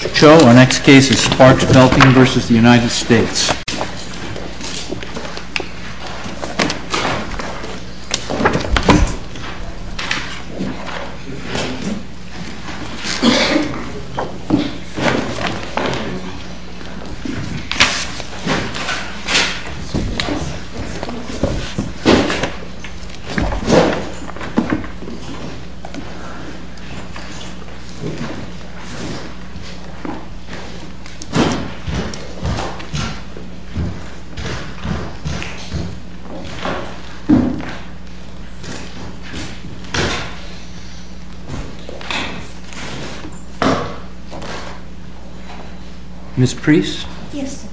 Mr. Cho, our next case is SPARKS BELTING v. United States Ms. Preece? Yes, sir.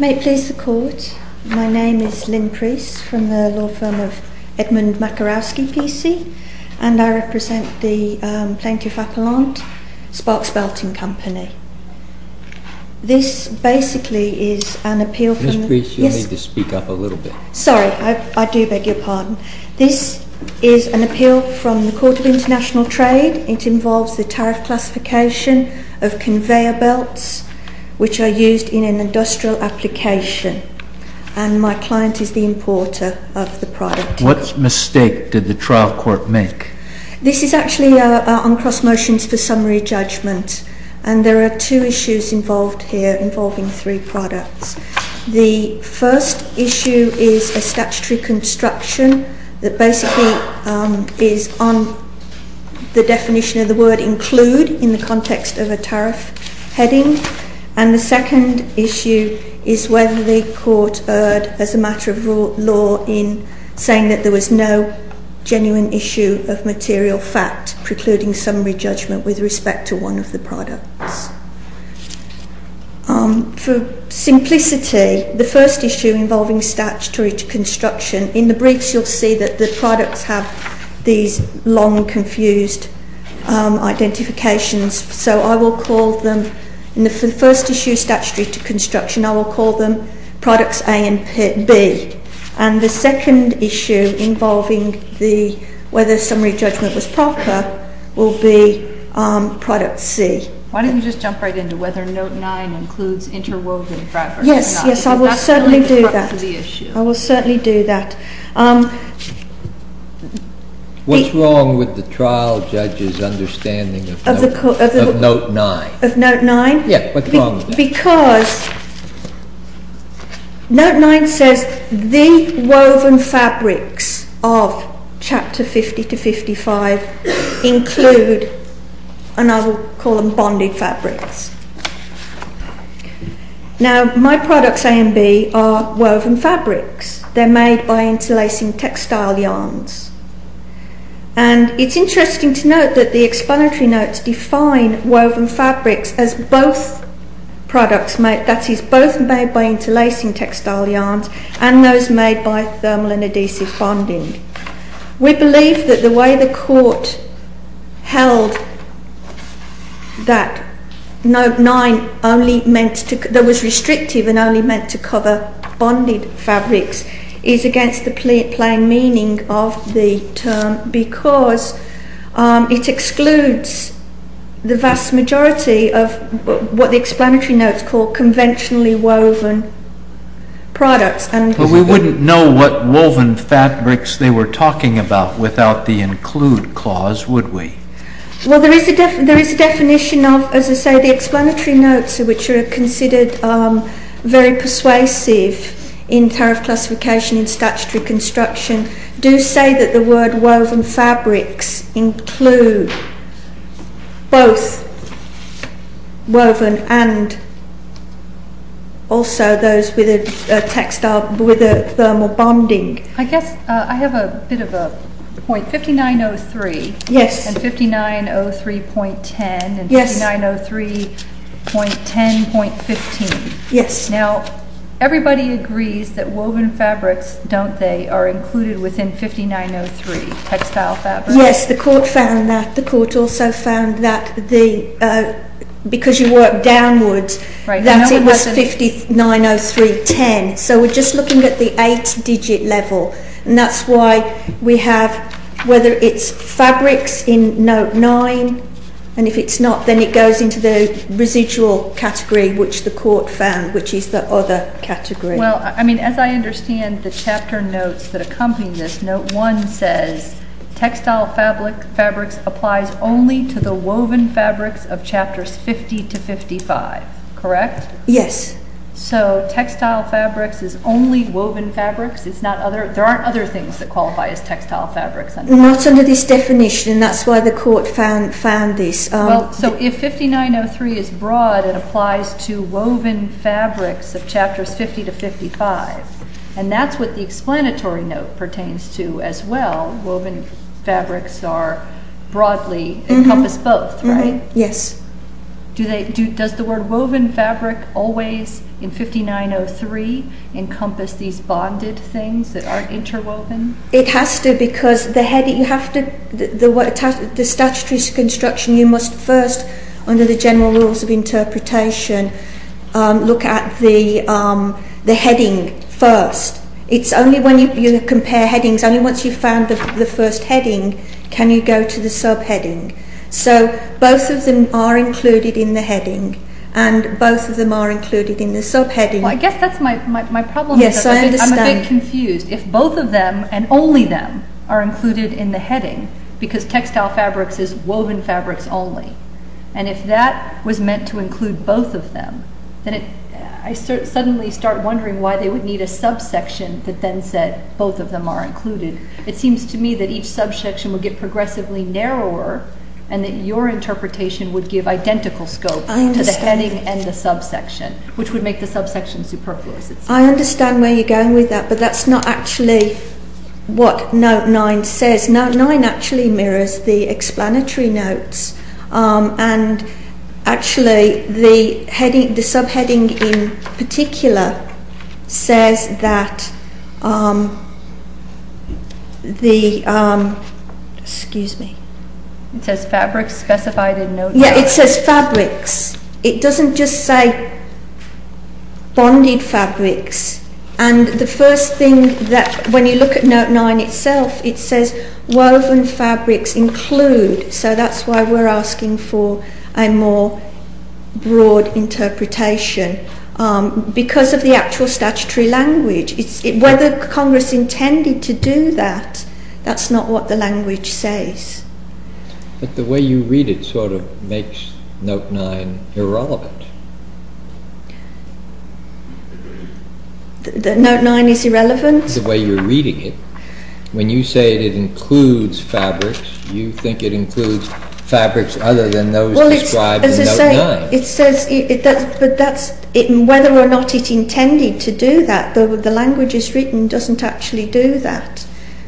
May it please the Court, my name is Lynn Preece from the law firm of Edmund Makarowski, PC, and I represent the Plaintiff Appellant, Sparks Belting Company. This basically is an appeal from... Ms. Preece, you need to speak up a little bit. Sorry, I do beg your pardon. This is an appeal from the Court of International Trade. It involves the tariff classification of conveyor belts which are used in an industrial application, and my client is the importer of the product. What mistake did the trial court make? This is actually on cross motions for summary judgment, and there are two issues involved here involving three products. The first issue is a statutory construction that basically is on the definition of the word include in the context of a tariff heading, and the second issue is whether the court erred as a matter of law in saying that there was no genuine issue of material fact precluding summary judgment with respect to one of the products. For simplicity, the first issue involving statutory construction, in the briefs you'll see that the products have these long, confused identifications, so I will call them... In the first issue, statutory construction, I will call them products A and B, and the second issue involving whether summary judgment was proper will be product C. Why don't you just jump right into whether note 9 includes interwoven... Yes, yes, I will certainly do that. I will certainly do that. What's wrong with the trial judge's understanding of note 9? Of note 9? Yes, what's wrong with that? Because note 9 says the woven fabrics of chapter 50 to 55 include, and I will call them bonded fabrics. Now, my products A and B are woven fabrics. They're made by interlacing textile yarns, and it's interesting to note that the explanatory notes define woven fabrics as both products, that is, both made by interlacing textile yarns and those made by thermal and adhesive bonding. We believe that the way the court held that note 9 was restrictive and only meant to cover bonded fabrics is against the plain meaning of the term because it excludes the vast majority of what the explanatory notes call conventionally woven products. But we wouldn't know what woven fabrics they were talking about without the include clause, would we? Well, there is a definition of, as I say, the explanatory notes which are considered very persuasive in tariff classification in statutory construction do say that the word woven fabrics include both I have a bit of a .5903 and 5903.10 and 5903.10.15. Now, everybody agrees that woven fabrics, don't they, are included within 5903, textile fabrics? Yes, the court found that. The court also found that because you work downwards, that it was 5903.10, so we're just looking at the eight-digit level, and that's why we have, whether it's fabrics in note 9, and if it's not, then it goes into the residual category which the court found, which is the other category. Well, I mean, as I understand the chapter notes that accompany this, note 1 says, textile fabrics applies only to the woven fabrics of chapters 50 to 55, correct? Yes. So, textile fabrics is only woven fabrics, it's not other, there aren't other things that qualify as textile fabrics. Not under this definition, that's why the court found this. So, if 5903 is broad, it applies to woven fabrics of chapters 50 to 55, and that's what the explanatory note pertains to as well, woven fabrics are broadly, encompass both, right? Yes. Do they, does the word woven fabric always, in 5903, encompass these bonded things that aren't interwoven? It has to because the heading, you have to, the statutory construction, you must first, under the general rules of interpretation, look at the heading first. It's only when you compare headings, only once you've found the first heading, can you go to the subheading. So, both of them are included in the heading, and both of them are included in the subheading. Well, I guess that's my problem. Yes, I understand. I'm a bit confused. If both of them, and only them, are included in the heading, because textile fabrics is woven fabrics only, and if that was meant to include both of them, then I suddenly start wondering why they would need a subsection that then said both of them are included. It seems to me that each subsection would get progressively narrower, and that your interpretation would give identical scope to the heading and the subsection, which would make the subsection superfluous. I understand where you're going with that, but that's not actually what note 9 says. Note 9 actually mirrors the explanatory notes, and actually the heading, the subheading in particular, says that the, excuse me. It says fabrics specified in note 9. Yes, it says fabrics. It doesn't just say bonded fabrics, and the first thing that, when you look at note 9 itself, it says woven fabrics include, so that's why we're asking for a more broad interpretation, because of the actual statutory language. Whether Congress intended to do that, that's not what the language says. But the way you read it sort of makes note 9 irrelevant. That note 9 is irrelevant? That's the way you're reading it. When you say it includes fabrics, you think it includes fabrics other than those described in note 9. Well, as I say, it says, but that's, whether or not it intended to do that, the language it's written doesn't actually do that,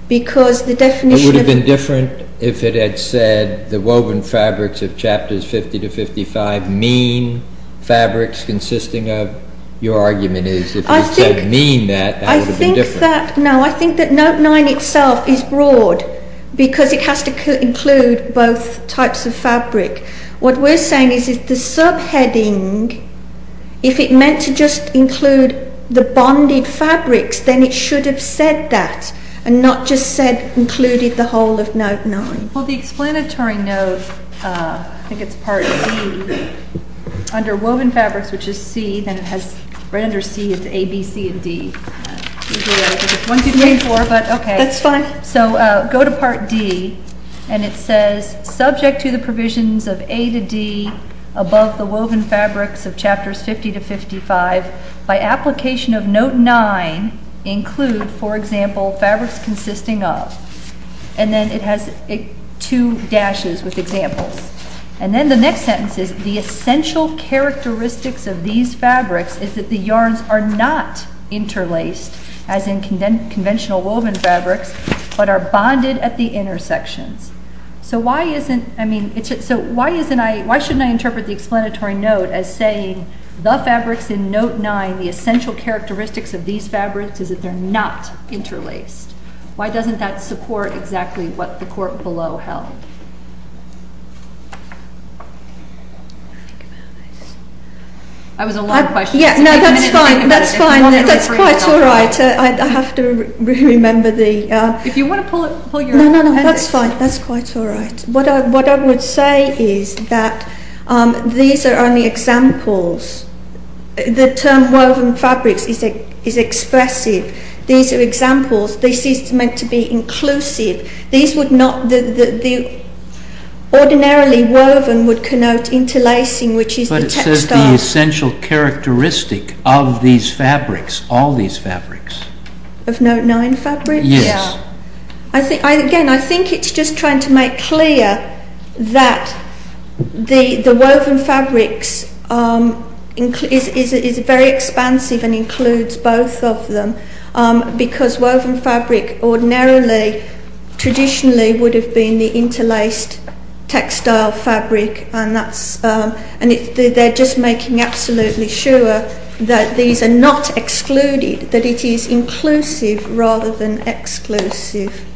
because the definition of... It would have been different if it had said the woven fabrics of chapters 50 to 55 mean fabrics consisting of, your argument is, if it said mean that, that would have been different. I think that, no, I think that note 9 itself is broad, because it has to include both types of fabric. What we're saying is, if the subheading, if it meant to just include the bonded fabrics, then it should have said that, and not just said included the whole of note 9. Well, the explanatory note, I think it's part under woven fabrics, which is C, then it has right under C, it's A, B, C, and D. That's fine. So, go to part D, and it says, subject to the provisions of A to D, above the woven fabrics of chapters 50 to 55, by application of note 9, include, for example, fabrics consisting of, and then it has two dashes with examples, and then the next sentence is, the essential characteristics of these fabrics is that the yarns are not interlaced, as in conventional woven fabrics, but are bonded at the intersections. So, why shouldn't I interpret the explanatory note as saying, the fabrics in note 9, the essential characteristics of these fabrics, is that they're not interlaced? Why doesn't that support exactly what the court below held? I was a lot of questions. Yeah, no, that's fine. That's fine. That's quite all right. I have to remember the... If you want to pull it... No, no, no, that's fine. That's quite all right. What I would say is that these are only examples. The term woven fabrics is expressive. These are examples. This is meant to be inclusive. These would not... Ordinarily woven would connote interlacing, which is the textiles... But it says the essential characteristic of these fabrics, all these fabrics. Of note 9 fabrics? Yes. Again, I think it's just trying to make clear that the woven fabrics is very expansive and includes both of them, because woven fabric ordinarily, traditionally, would have been the interlaced textile fabric. They're just making absolutely sure that these are not excluded, that it is inclusive rather than exclusive.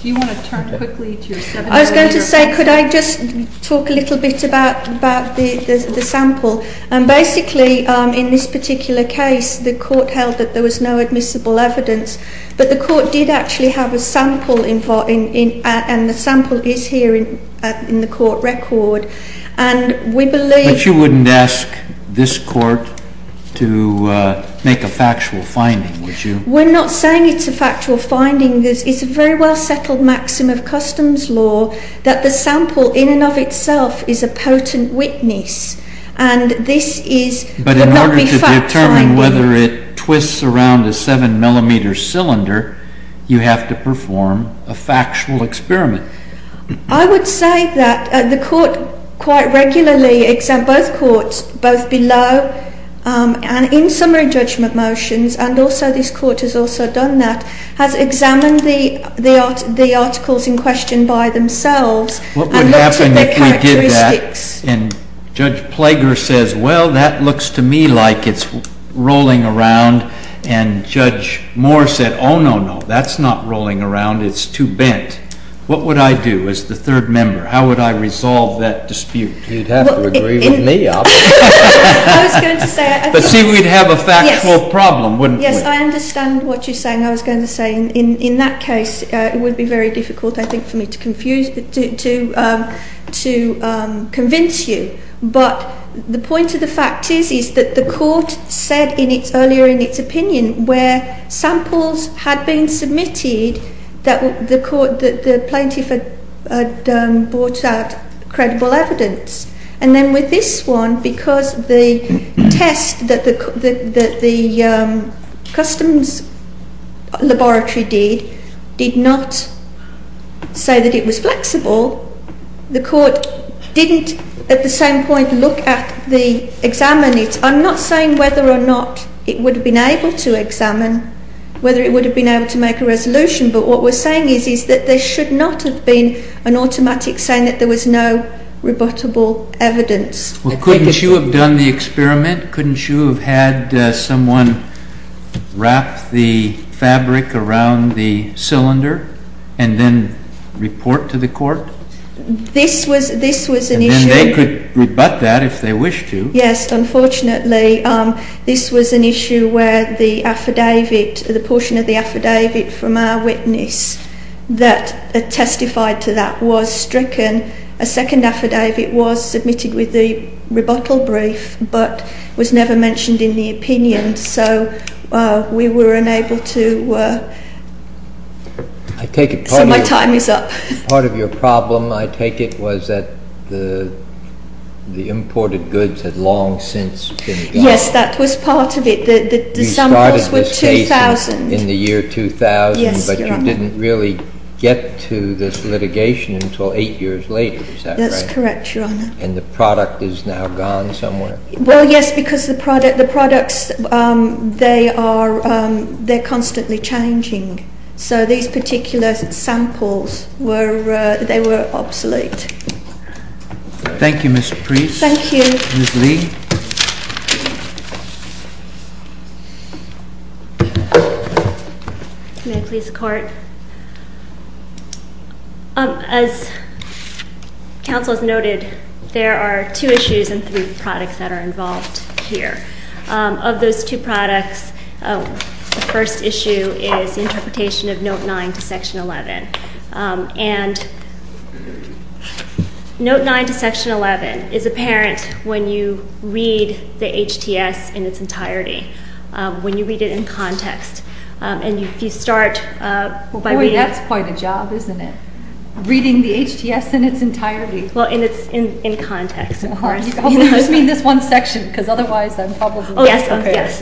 Do you want to turn quickly to... I was going to say, could I just talk a little bit about the sample? Basically, in this particular case, the court held that there was no admissible evidence, but the court did actually have a sample, and the sample is here in the court record. But you wouldn't ask this court to make a factual finding, would you? We're not saying it's a factual finding. It's a very well-settled maxim of customs law that the sample in and of itself is a potent witness, and this is... But in order to determine whether it twists around a seven-millimeter cylinder, you have to perform a factual experiment. I would say that the court quite regularly... Both courts, both below and in summary judgment motions, and also this court has also done that, has examined the articles in question by themselves... What would happen if we did that and Judge Plager says, well, that looks to me like it's rolling around, and Judge Moore said, oh, no, no, that's not rolling around. It's too bent. What would I do as the third member? How would I resolve that dispute? You'd have to agree with me. But see, we'd have a factual problem, wouldn't we? Yes, I understand what you're saying. I was going to say in that case, it would be very difficult, I think, for me to convince you, but the point of the fact is that the court said earlier in its opinion where samples had been submitted that the plaintiff had brought out credible evidence, and then with this one, because the test that the customs laboratory did, did not say that it was flexible, the court didn't at the same point look at the examinees. I'm not saying whether or not it would have been able to examine, whether it would have been able to make a resolution, but what we're saying is that there should not have been an automatic saying that there was no rebuttable evidence. Well, couldn't you have done the experiment? Couldn't you have had someone wrap the fabric around the cylinder and then report to the court? This was an issue... And then they could rebut that if they wish to. Yes, unfortunately, this was an issue where the affidavit, the portion of the affidavit from our witness that testified to that was stricken. A second affidavit was submitted with the rebuttal brief, but was never mentioned in the opinion, so we were unable to... I take it... So my time is up. Part of your problem, I take it, was that the samples had long since been gone? Yes, that was part of it. The samples were 2000. You started this case in the year 2000, but you didn't really get to this litigation until eight years later, is that right? That's correct, Your Honour. And the product is now gone somewhere? Well, yes, because the product, the products, they are, they're constantly changing, so these particular samples were, they were obsolete. Thank you, Ms. Preece. Thank you. Ms. Lee. May I please court? As counsel has noted, there are two issues and three products that are involved here. Of those two products, the first issue is the interpretation of Note 9 to Section 11, and Note 9 to Section 11 is apparent when you read the HTS in its entirety, when you read it in context, and if you start by reading... Boy, that's quite a job, isn't it? Reading the HTS in its entirety. Well, in its, in context, of course. You just mean this one section, because otherwise I'm probably... Oh, yes, yes.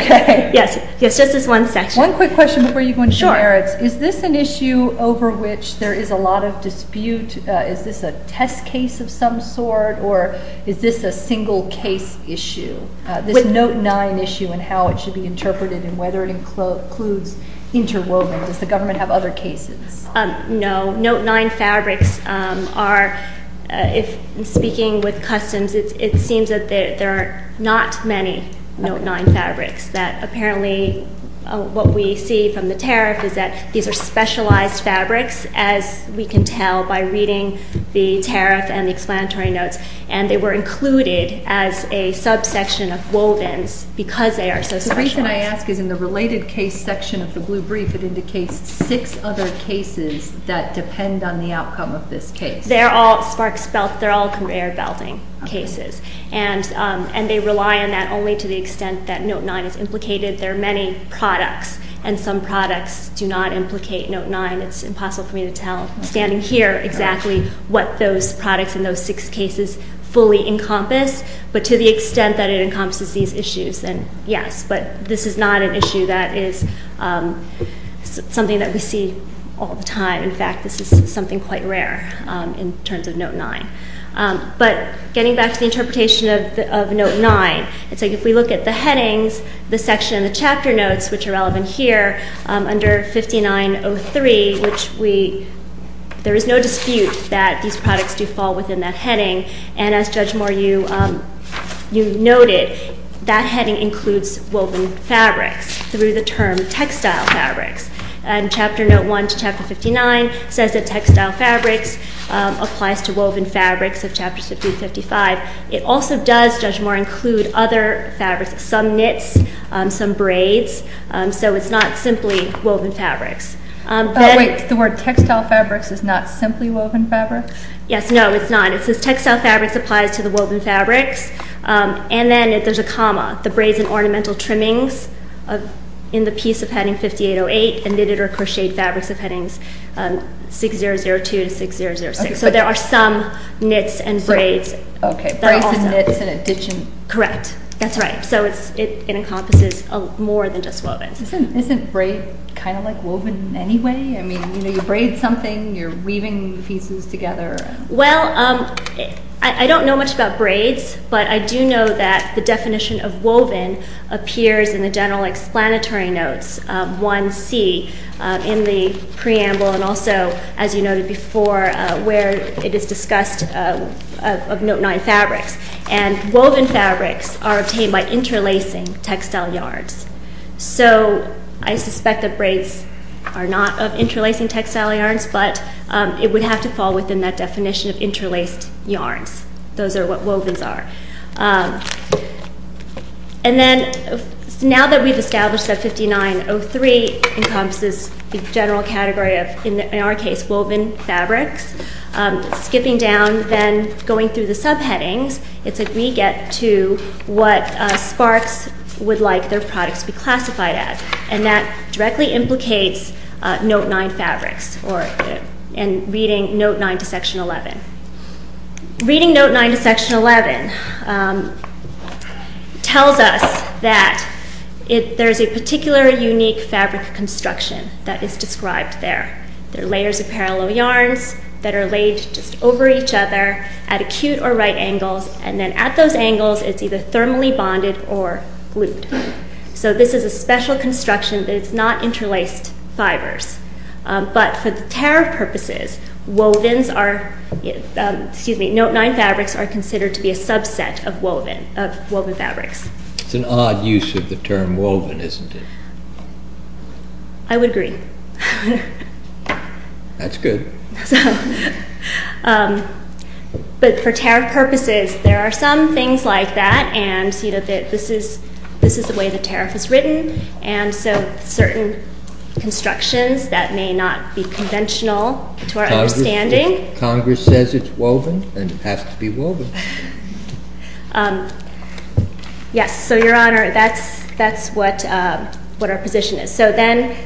Okay. Yes, yes, just this one section. One quick question before you go into the merits. Is this an issue over which there is a lot of dispute? Is this a test case of some sort, or is this a single case issue, this Note 9 issue and how it should be interpreted and whether it includes interwoven? Does the government have other cases? No. Note 9 fabrics are, if I'm speaking with customs, it seems that there are not many Note 9 fabrics that apparently what we see from the tariff is that these are specialized fabrics, as we can tell by reading the tariff and the explanatory notes, and they were included as a subsection of wovens because they are so specialized. The reason I ask is in the related case section of the blue brief, it indicates six other cases that depend on the outcome of this case. They're all sparks belt, they're all conveyor belting cases, and they rely on that only to the extent that Note 9 is implicated. There are many products, and some products do not implicate Note 9. It's impossible for me to tell, standing here, exactly what those products in those six cases fully encompass, but to the extent that it encompasses these issues, then yes. But this is not an issue that is something that we see all the time. In fact, this is something quite rare in terms of Note 9. But getting back to the interpretation of Note 9, it's like if we look at the headings, the section, the chapter notes, which are relevant here, under 5903, which we, there is no dispute that these products do fall within that heading, and as Judge Moore, you noted, that heading includes woven fabrics through the term textile fabrics, and Chapter Note 1 to Chapter 59 says that textile fabrics applies to woven fabrics of Chapters 50 to 55. It also does, Judge Moore, include other fabrics, some knits, some braids, so it's not simply woven fabrics. Oh wait, the word textile fabrics is not simply woven fabrics? Yes, no, it's not. It says textile fabrics applies to the woven fabrics, and then there's a comma, the braids and ornamental trimmings in the piece of heading 5808, and knitted or crocheted fabrics of headings 6002 to 6006. So there are some knits and braids. Okay, braids and knits in addition. Correct. That's right. So it encompasses more than just woven. Isn't braid kind of like woven anyway? I mean, you know, you braid something, you're I do know that the definition of woven appears in the general explanatory notes 1c in the preamble, and also, as you noted before, where it is discussed of Note 9 fabrics, and woven fabrics are obtained by interlacing textile yarns. So I suspect that braids are not of interlacing textile yarns, but it would have to fall within that definition of interlaced yarns. Those are what and then now that we've established that 5903 encompasses the general category of, in our case, woven fabrics, skipping down, then going through the subheadings, it's like we get to what Sparks would like their products to be classified as, and that directly implicates Note 9 fabrics, and reading Note 9 to Section 11. Reading Note 9 to Section 11 tells us that there's a particular unique fabric construction that is described there. There are layers of parallel yarns that are laid just over each other at acute or right angles, and then at those angles, it's either thermally bonded or glued. So this is a special construction that is not interlaced fibers, but for the tariff purposes, Note 9 fabrics are considered to be a subset of woven fabrics. It's an odd use of the term woven, isn't it? I would agree. That's good. But for tariff purposes, there are some things like that, and this is the way the certain constructions that may not be conventional to our understanding. Congress says it's woven, and it has to be woven. Yes, so your honor, that's what our position is. So then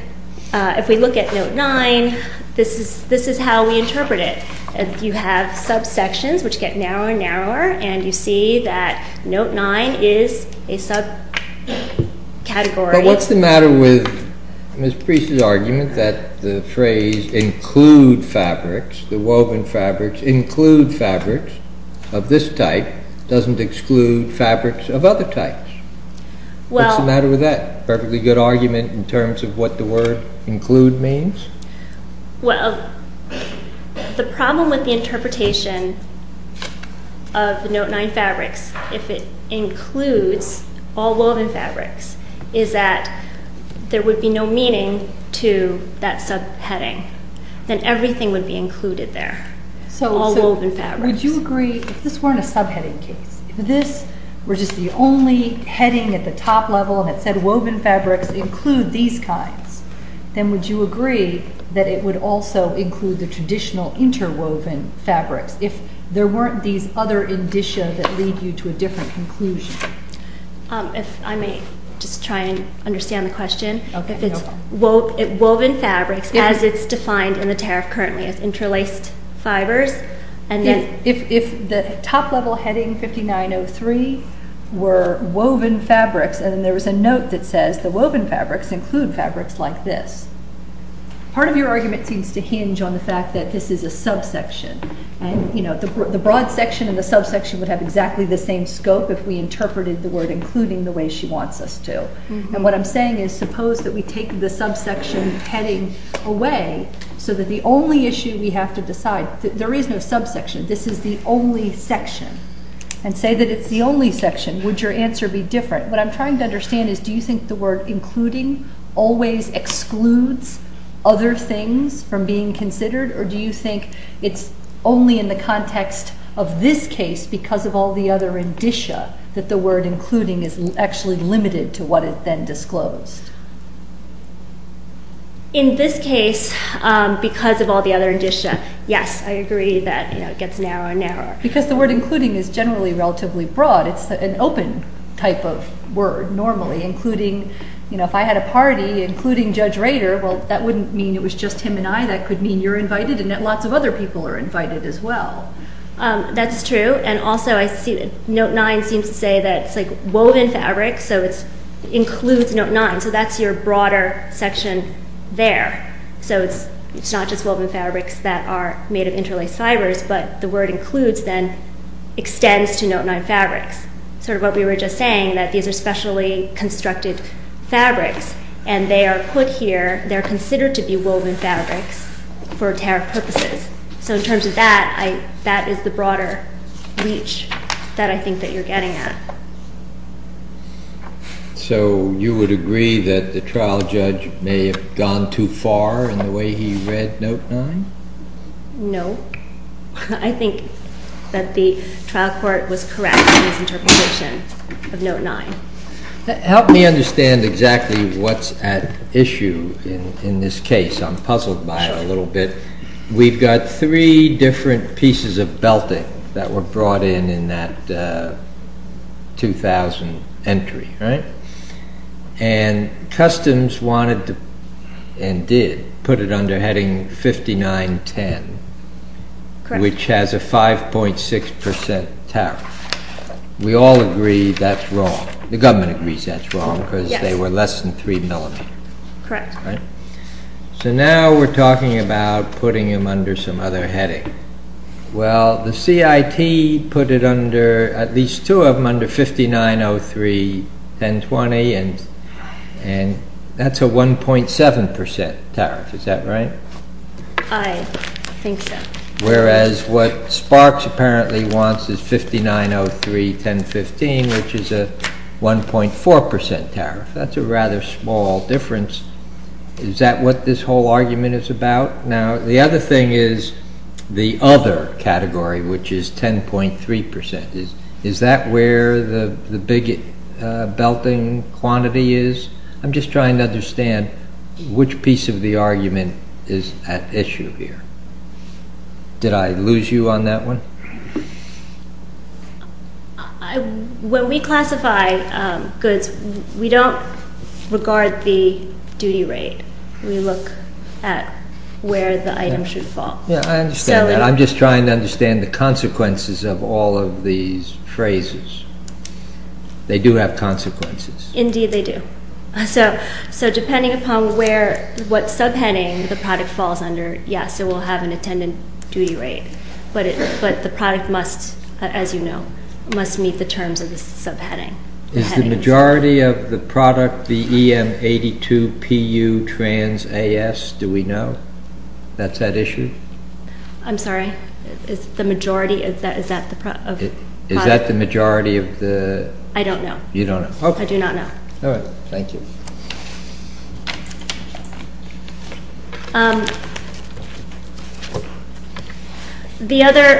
if we look at Note 9, this is how we interpret it. You have subsections which get narrower and narrower, and you see that Note 9 is a subcategory. But what's the matter with Ms. Priest's argument that the phrase include fabrics, the woven fabrics include fabrics of this type, doesn't exclude fabrics of other types? What's the matter with that? Perfectly good argument in terms of what the word include means. Well, the problem with the interpretation of the Note 9 fabrics, if it includes all woven fabrics, is that there would be no meaning to that subheading. Then everything would be included there, all woven fabrics. So would you agree, if this weren't a subheading case, if this were just the only heading at the top level that said woven fabrics include these kinds, then would you agree that it would also include the traditional interwoven fabrics if there weren't these other indicia that lead you to a different conclusion? If I may just try and understand the question, if it's woven fabrics as it's defined in the tariff currently, it's interlaced fibers, and then... If the top level heading 5903 were woven fabrics, and there was a note that says the woven fabrics include fabrics like this, part of your argument seems to hinge on the fact that this is a subsection. And, you know, the broad section and the subsection would have exactly the same scope if we interpreted the word including the way she wants us to. And what I'm saying is, suppose that we take the subsection heading away, so that the only issue we have to decide, there is no subsection, this is the only section, and say that it's the only section, would your answer be different? What I'm trying to always excludes other things from being considered, or do you think it's only in the context of this case, because of all the other indicia, that the word including is actually limited to what is then disclosed? In this case, because of all the other indicia, yes, I agree that, you know, it gets narrower and narrower. Because the word including is generally relatively broad, it's an open type of word normally, including, you know, if I had a party, including Judge Rader, well, that wouldn't mean it was just him and I, that could mean you're invited, and that lots of other people are invited as well. That's true, and also I see note nine seems to say that it's like woven fabric, so it's includes note nine, so that's your broader section there. So it's not just woven fabrics that are made of interlaced fibers, but the word includes then extends to note nine fabrics. Sort of what we were just saying, that these are specially constructed fabrics, and they are put here, they're considered to be woven fabrics for tariff purposes. So in terms of that, that is the broader reach that I think that you're getting at. So you would agree that the trial judge may have gone too far in the way he read note nine? No, I think that the trial court was correct in his of note nine. Help me understand exactly what's at issue in this case. I'm puzzled by it a little bit. We've got three different pieces of belting that were brought in in that 2000 entry, right? And customs wanted to, and did, put it under heading 5910, which has a 5.6 percent tariff. We all agree that's wrong. The government agrees that's wrong, because they were less than three millimeter. Correct. So now we're talking about putting them under some other heading. Well, the CIT put it under, at least two of them, under 5903.1020, and that's a 1.7 percent tariff. Is that right? I think so. Whereas what Sparks apparently wants is 5903.1015, which is a 1.4 percent tariff. That's a rather small difference. Is that what this whole argument is about? Now, the other thing is the other category, which is 10.3 percent. Is that where the big belting quantity is? I'm just trying to understand which piece of the argument is at issue here. Did I lose you on that one? When we classify goods, we don't regard the duty rate. We look at where the item should fall. Yeah, I understand that. I'm just trying to understand the consequences of all of these phrases. They do have consequences. Indeed, they do. So, depending upon what subheading the product falls under, yes, it will have an attendant duty rate, but the product must, as you know, must meet the terms of the subheading. Is the majority of the product the EM82PU Trans AS? Do we know that's at issue? I'm sorry. Is that the majority of the product? Is that the majority of the... I don't know. You don't know. Okay. I do not know. All right. Thank you. The other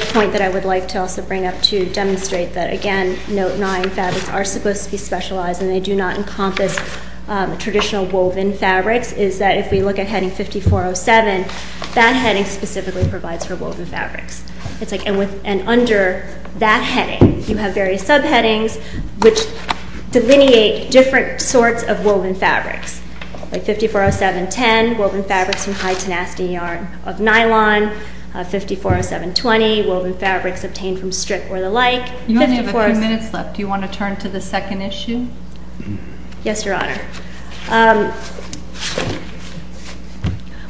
point that I would like to also bring up to demonstrate that, again, Note 9 fabrics are supposed to be specialized and they do not encompass traditional woven fabrics, is that if we look at heading 5407, that heading specifically provides for woven fabrics. And under that heading, you have various subheadings which delineate different sorts of woven fabrics, like 540710, woven fabrics from high tenacity yarn of nylon, 540720, woven fabrics obtained from strip or the like. You only have a few minutes left. Do you want to turn to the second issue? Yes, Your Honor.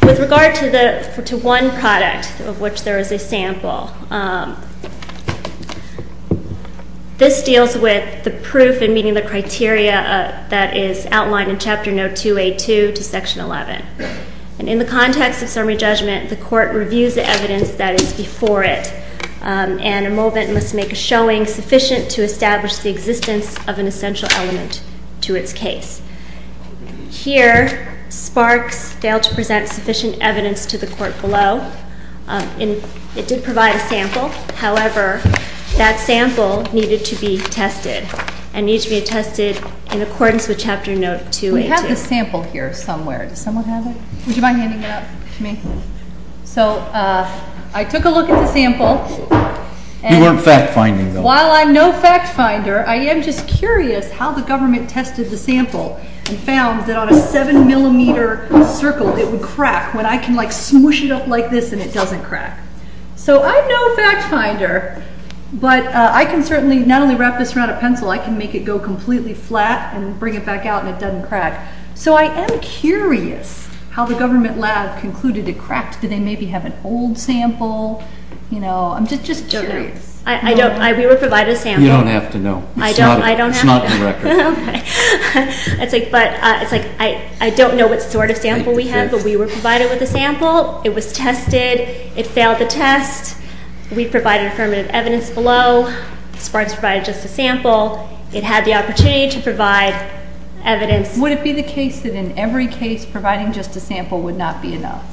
With regard to one product of which there is a sample, this deals with the proof and meeting the criteria that is outlined in evidence that is before it. And a moment must make a showing sufficient to establish the existence of an essential element to its case. Here, Sparks failed to present sufficient evidence to the court below. It did provide a sample. However, that sample needed to be tested and needs to be tested in accordance with Chapter Note 282. We have the sample here somewhere. Does someone have it? Would you mind handing it out to me? So, I took a look at the sample. You weren't fact-finding though. While I'm no fact-finder, I am just curious how the government tested the sample and found that on a seven millimeter circle, it would crack when I can like smoosh it up like this and it doesn't crack. So, I'm no fact-finder, but I can certainly not only wrap this around a pencil, I can make it go completely flat and bring it back out and it doesn't crack. So, I am curious how the government lab concluded it cracked. Did they maybe have an old sample? You know, I'm just curious. I don't know. We were provided a sample. You don't have to know. I don't have to know. It's not in the record. Okay. It's like, I don't know what sort of sample we have, but we were provided with a sample. It was tested. It failed the test. We provided affirmative evidence below. Sparks provided just a sample. It had the opportunity to provide evidence. Would it be the case that in every case providing just a sample would not be enough?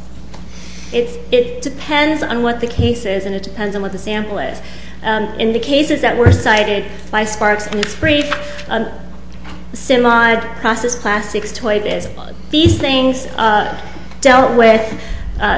It depends on what the case is and it depends on what the sample is. In the cases that were cited by Sparks in his brief, Simod, Process Plastics, Toy Biz, these things dealt with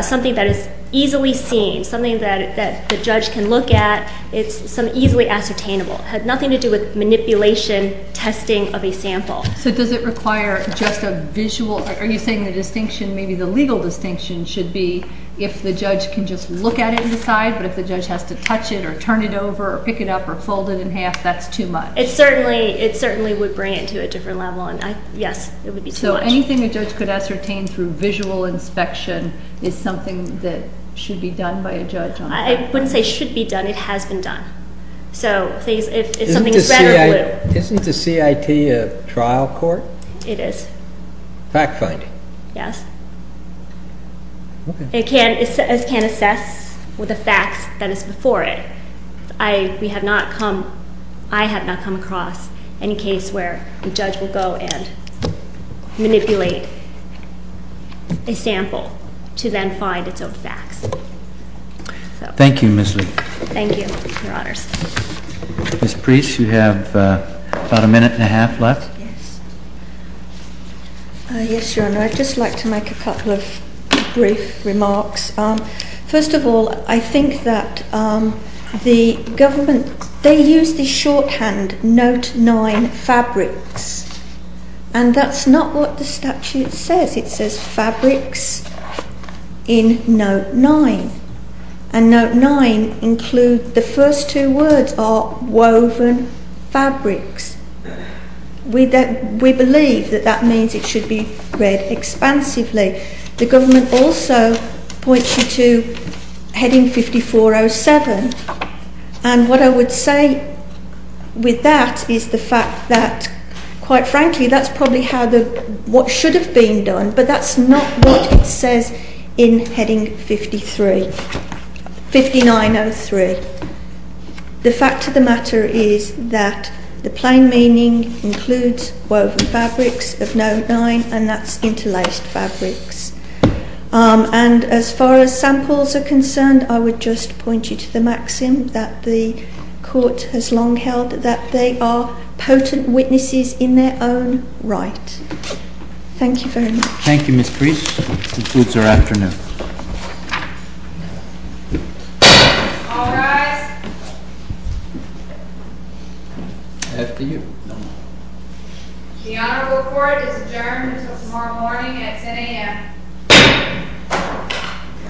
something that is easily seen, something that the judge can look at. It's some easily ascertainable. It had nothing to do with manipulation, testing of a sample. So, does it require just a visual? Are you saying the distinction, maybe the legal distinction should be if the judge can just look at it and decide, but if the judge has to touch it or turn it over or pick it up or fold it in half, that's too much? It certainly would bring it to a different level. Yes, it would be too much. So, anything a judge could ascertain through visual inspection is something that should be done by a judge. So, please, if something is red or blue. Isn't the CIT a trial court? It is. Fact-finding? Yes. It can assess with the facts that is before it. We have not come, I have not come across any case where the judge will go and manipulate a sample to then find its own facts. Thank you, Ms. Lee. Thank you, Your Honors. Ms. Preece, you have about a minute and a half left. Yes, Your Honor. I'd just like to make a couple of brief remarks. First of all, I think that the government, they use the shorthand Note 9 Fabrics, and that's not what the statute says. It says Fabrics in Note 9, and Note 9 includes the first two words are woven fabrics. We believe that that means it should be read expansively. The government also points you to heading 5407, and what I would say with that is the fact that, quite frankly, that's probably how the, what should have been done, but that's not what it says in heading 5903. The fact of the matter is that the plain meaning includes woven fabrics of Note 9, and that's interlaced fabrics. And as far as samples are concerned, I would just point you to the maxim that the court has long held that they are potent witnesses in their own right. Thank you very much. Thank you, Ms. Preece. This concludes our afternoon. All rise. After you. The honorable court is adjourned until tomorrow morning at 10 a.m.